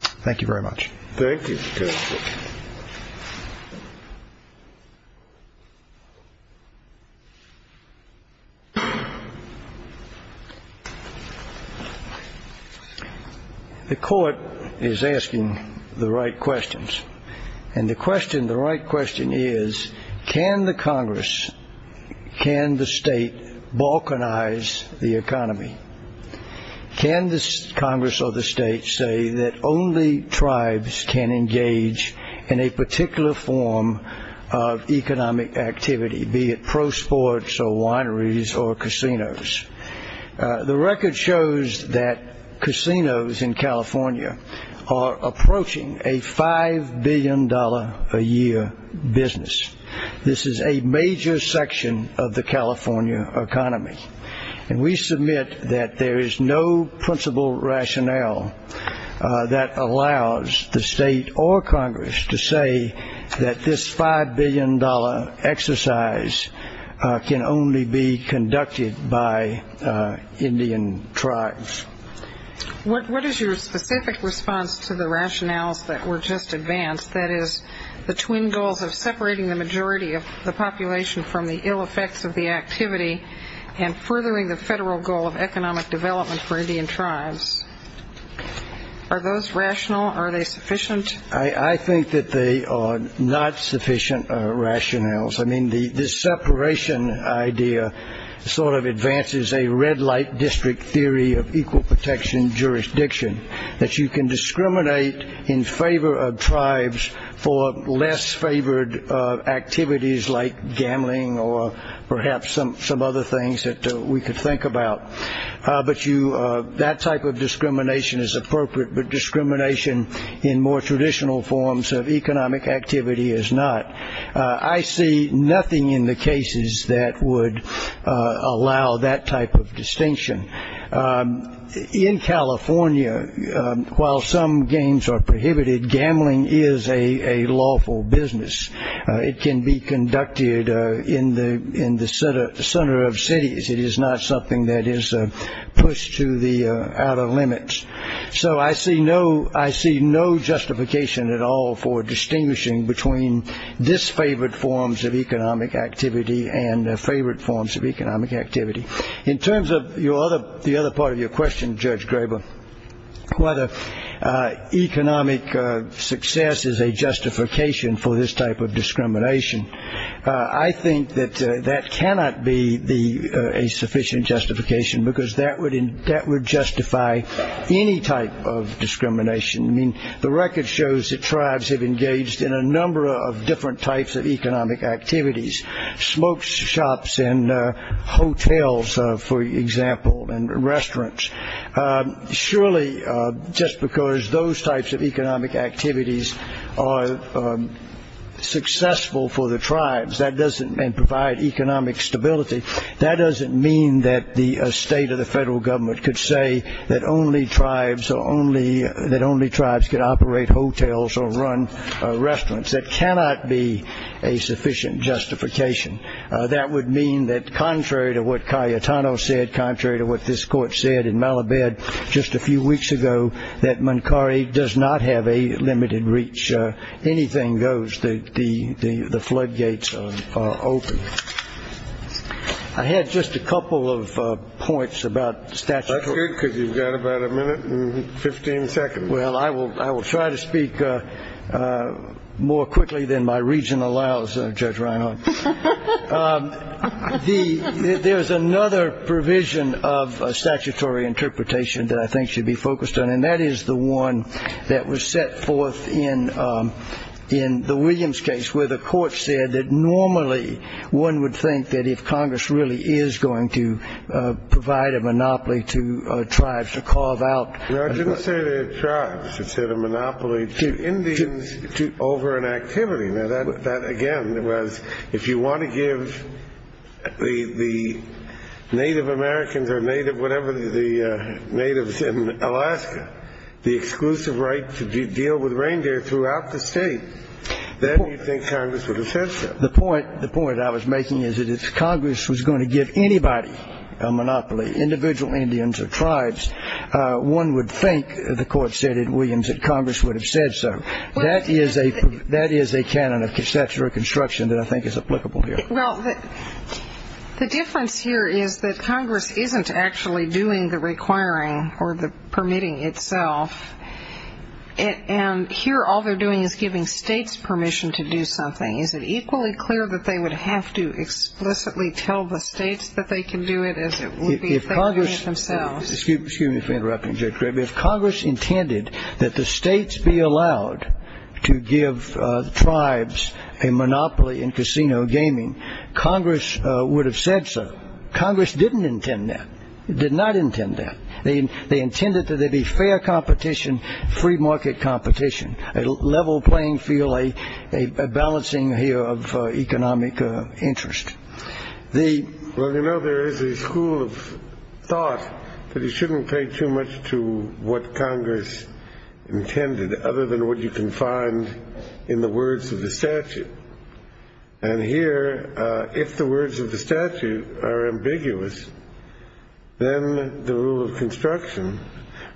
Thank you very much. Thank you, Justice. The Court is asking the right questions. And the question, the right question is, can the Congress, can the state balkanize the economy? Can the Congress or the state say that only tribes can engage in a particular form of economic activity, be it pro sports or wineries or casinos? The record shows that casinos in California are approaching a $5 billion a year business. This is a major section of the California economy. And we submit that there is no principle rationale that allows the state or Congress to say that this $5 billion exercise can only be conducted by Indian tribes. What is your specific response to the rationales that were just advanced, that is, the twin goals of separating the majority of the population from the ill effects of the activity and furthering the federal goal of economic development for Indian tribes? Are those rational? Are they sufficient? I think that they are not sufficient rationales. I mean, the separation idea sort of advances a red light district theory of equal protection jurisdiction, that you can discriminate in favor of tribes for less favored activities like gambling or perhaps some other things that we could think about. But that type of discrimination is appropriate, but discrimination in more traditional forms of economic activity is not. I see nothing in the cases that would allow that type of distinction. In California, while some games are prohibited, gambling is a lawful business. It can be conducted in the center of cities. It is not something that is pushed to the outer limits. So I see no justification at all for distinguishing between disfavored forms of economic activity and favored forms of economic activity. In terms of the other part of your question, Judge Graber, whether economic success is a justification for this type of discrimination, I think that that cannot be a sufficient justification because that would justify any type of discrimination. I mean, the record shows that tribes have for example, and restaurants. Surely, just because those types of economic activities are successful for the tribes, that doesn't provide economic stability. That doesn't mean that the state or the federal government could say that only tribes could operate hotels or run restaurants. That cannot be a sufficient justification. That would mean that contrary to what Cayetano said, contrary to what this court said in Malabad just a few weeks ago, that Mankari does not have a limited reach. Anything goes. The floodgates are open. I had just a couple of points about statutes. That's good because you've got about a minute and 15 seconds. Well, I will try to speak more quickly than my reason allows, Judge Reinhart. There's another provision of statutory interpretation that I think should be focused on, and that is the one that was set forth in the Williams case where the court said that normally one would think that if Congress really is going to provide a monopoly to tribes to carve out. No, I didn't say tribes. I said a monopoly to Indians over an activity. Now, that again was if you want to give the Native Americans or whatever the natives in Alaska the exclusive right to deal with reindeer throughout the state, then you think Congress would have said so. The point I was making is that if Congress was going to give anybody a monopoly, individual Indians or tribes, one would think, the court said in Williams, that Congress would have said so. That is a canon of statutory construction that I think is applicable here. Well, the difference here is that Congress isn't actually doing the requiring or the permitting itself, and here all they're doing is giving states permission to do something. Is it equally clear that they would have to explicitly tell the states that they can do it as it would be if they were doing it themselves? Excuse me for interrupting, Judge Greby. If Congress intended that the states be allowed to give tribes a monopoly in casino gaming, Congress would have said so. Congress didn't intend that, did not intend that. They intended that there be fair competition, free market competition, a level playing field, a balancing here of economic interest. Well, you know, there is a school of thought that you shouldn't pay too much to what Congress intended, other than what you can find in the words of the statute. And here, if the words of the statute are ambiguous, then the rule of construction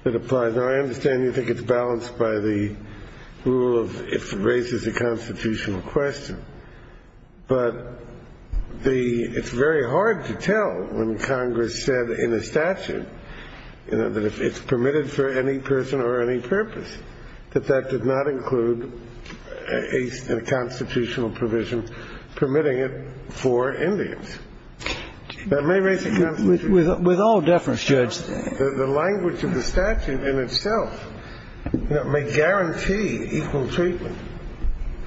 that applies, and I understand you think it's balanced by the rule of if it raises a constitutional question, but it's very hard to tell when Congress said in a statute, you know, that if it's permitted for any person or any purpose, that that did not include a constitutional provision permitting it for Indians. That may raise a constitutional question. With all deference, Judge. The language of the statute in itself may guarantee equal treatment,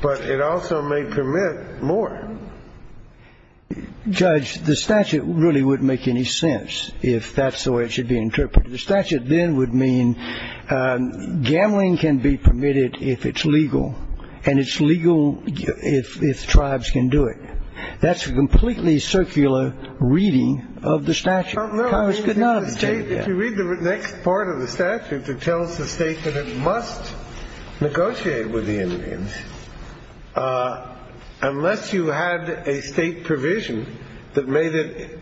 but it also may permit more. Judge, the statute really wouldn't make any sense if that's the way it should be interpreted. The statute then would mean gambling can be permitted if it's legal, and it's legal if tribes can do it. That's a completely circular reading of the statute. Congress did not intend that. If you read the next part of the statute, it tells the state that it must negotiate with the Indians unless you had a state provision that made it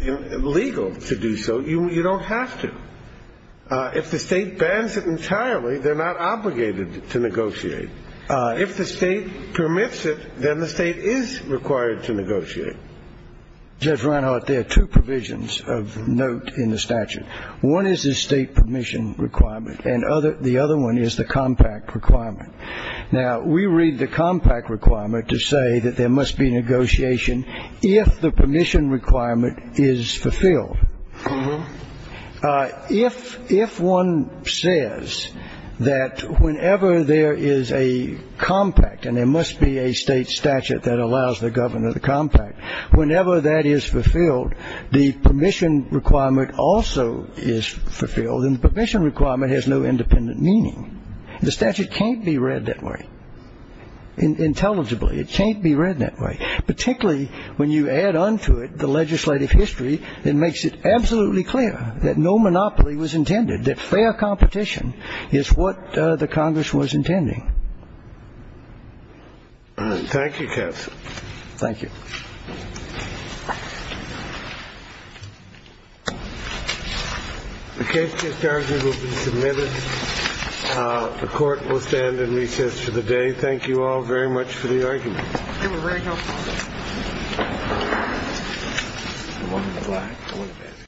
legal to do so. You don't have to. If the state bans it entirely, they're not obligated to negotiate. If the state permits it, then the state is required to negotiate. Judge Reinhart, there are two provisions of note in the statute. One is the state permission requirement, and the other one is the compact requirement. Now, we read the compact requirement to say that there must be negotiation if the permission requirement is fulfilled. If one says that whenever there is a compact and there must be a state statute that allows the governor the compact, whenever that is fulfilled, the permission requirement also is fulfilled, and the permission requirement has no independent meaning. The statute can't be read that way, intelligibly. It can't be read that way, particularly when you add on to it the legislative history that makes it absolutely clear that no monopoly was intended, that fair competition is what the Congress was intending. Thank you, counsel. Thank you. The case is submitted. The court will stand in recess for the day. Thank you all very much for the argument.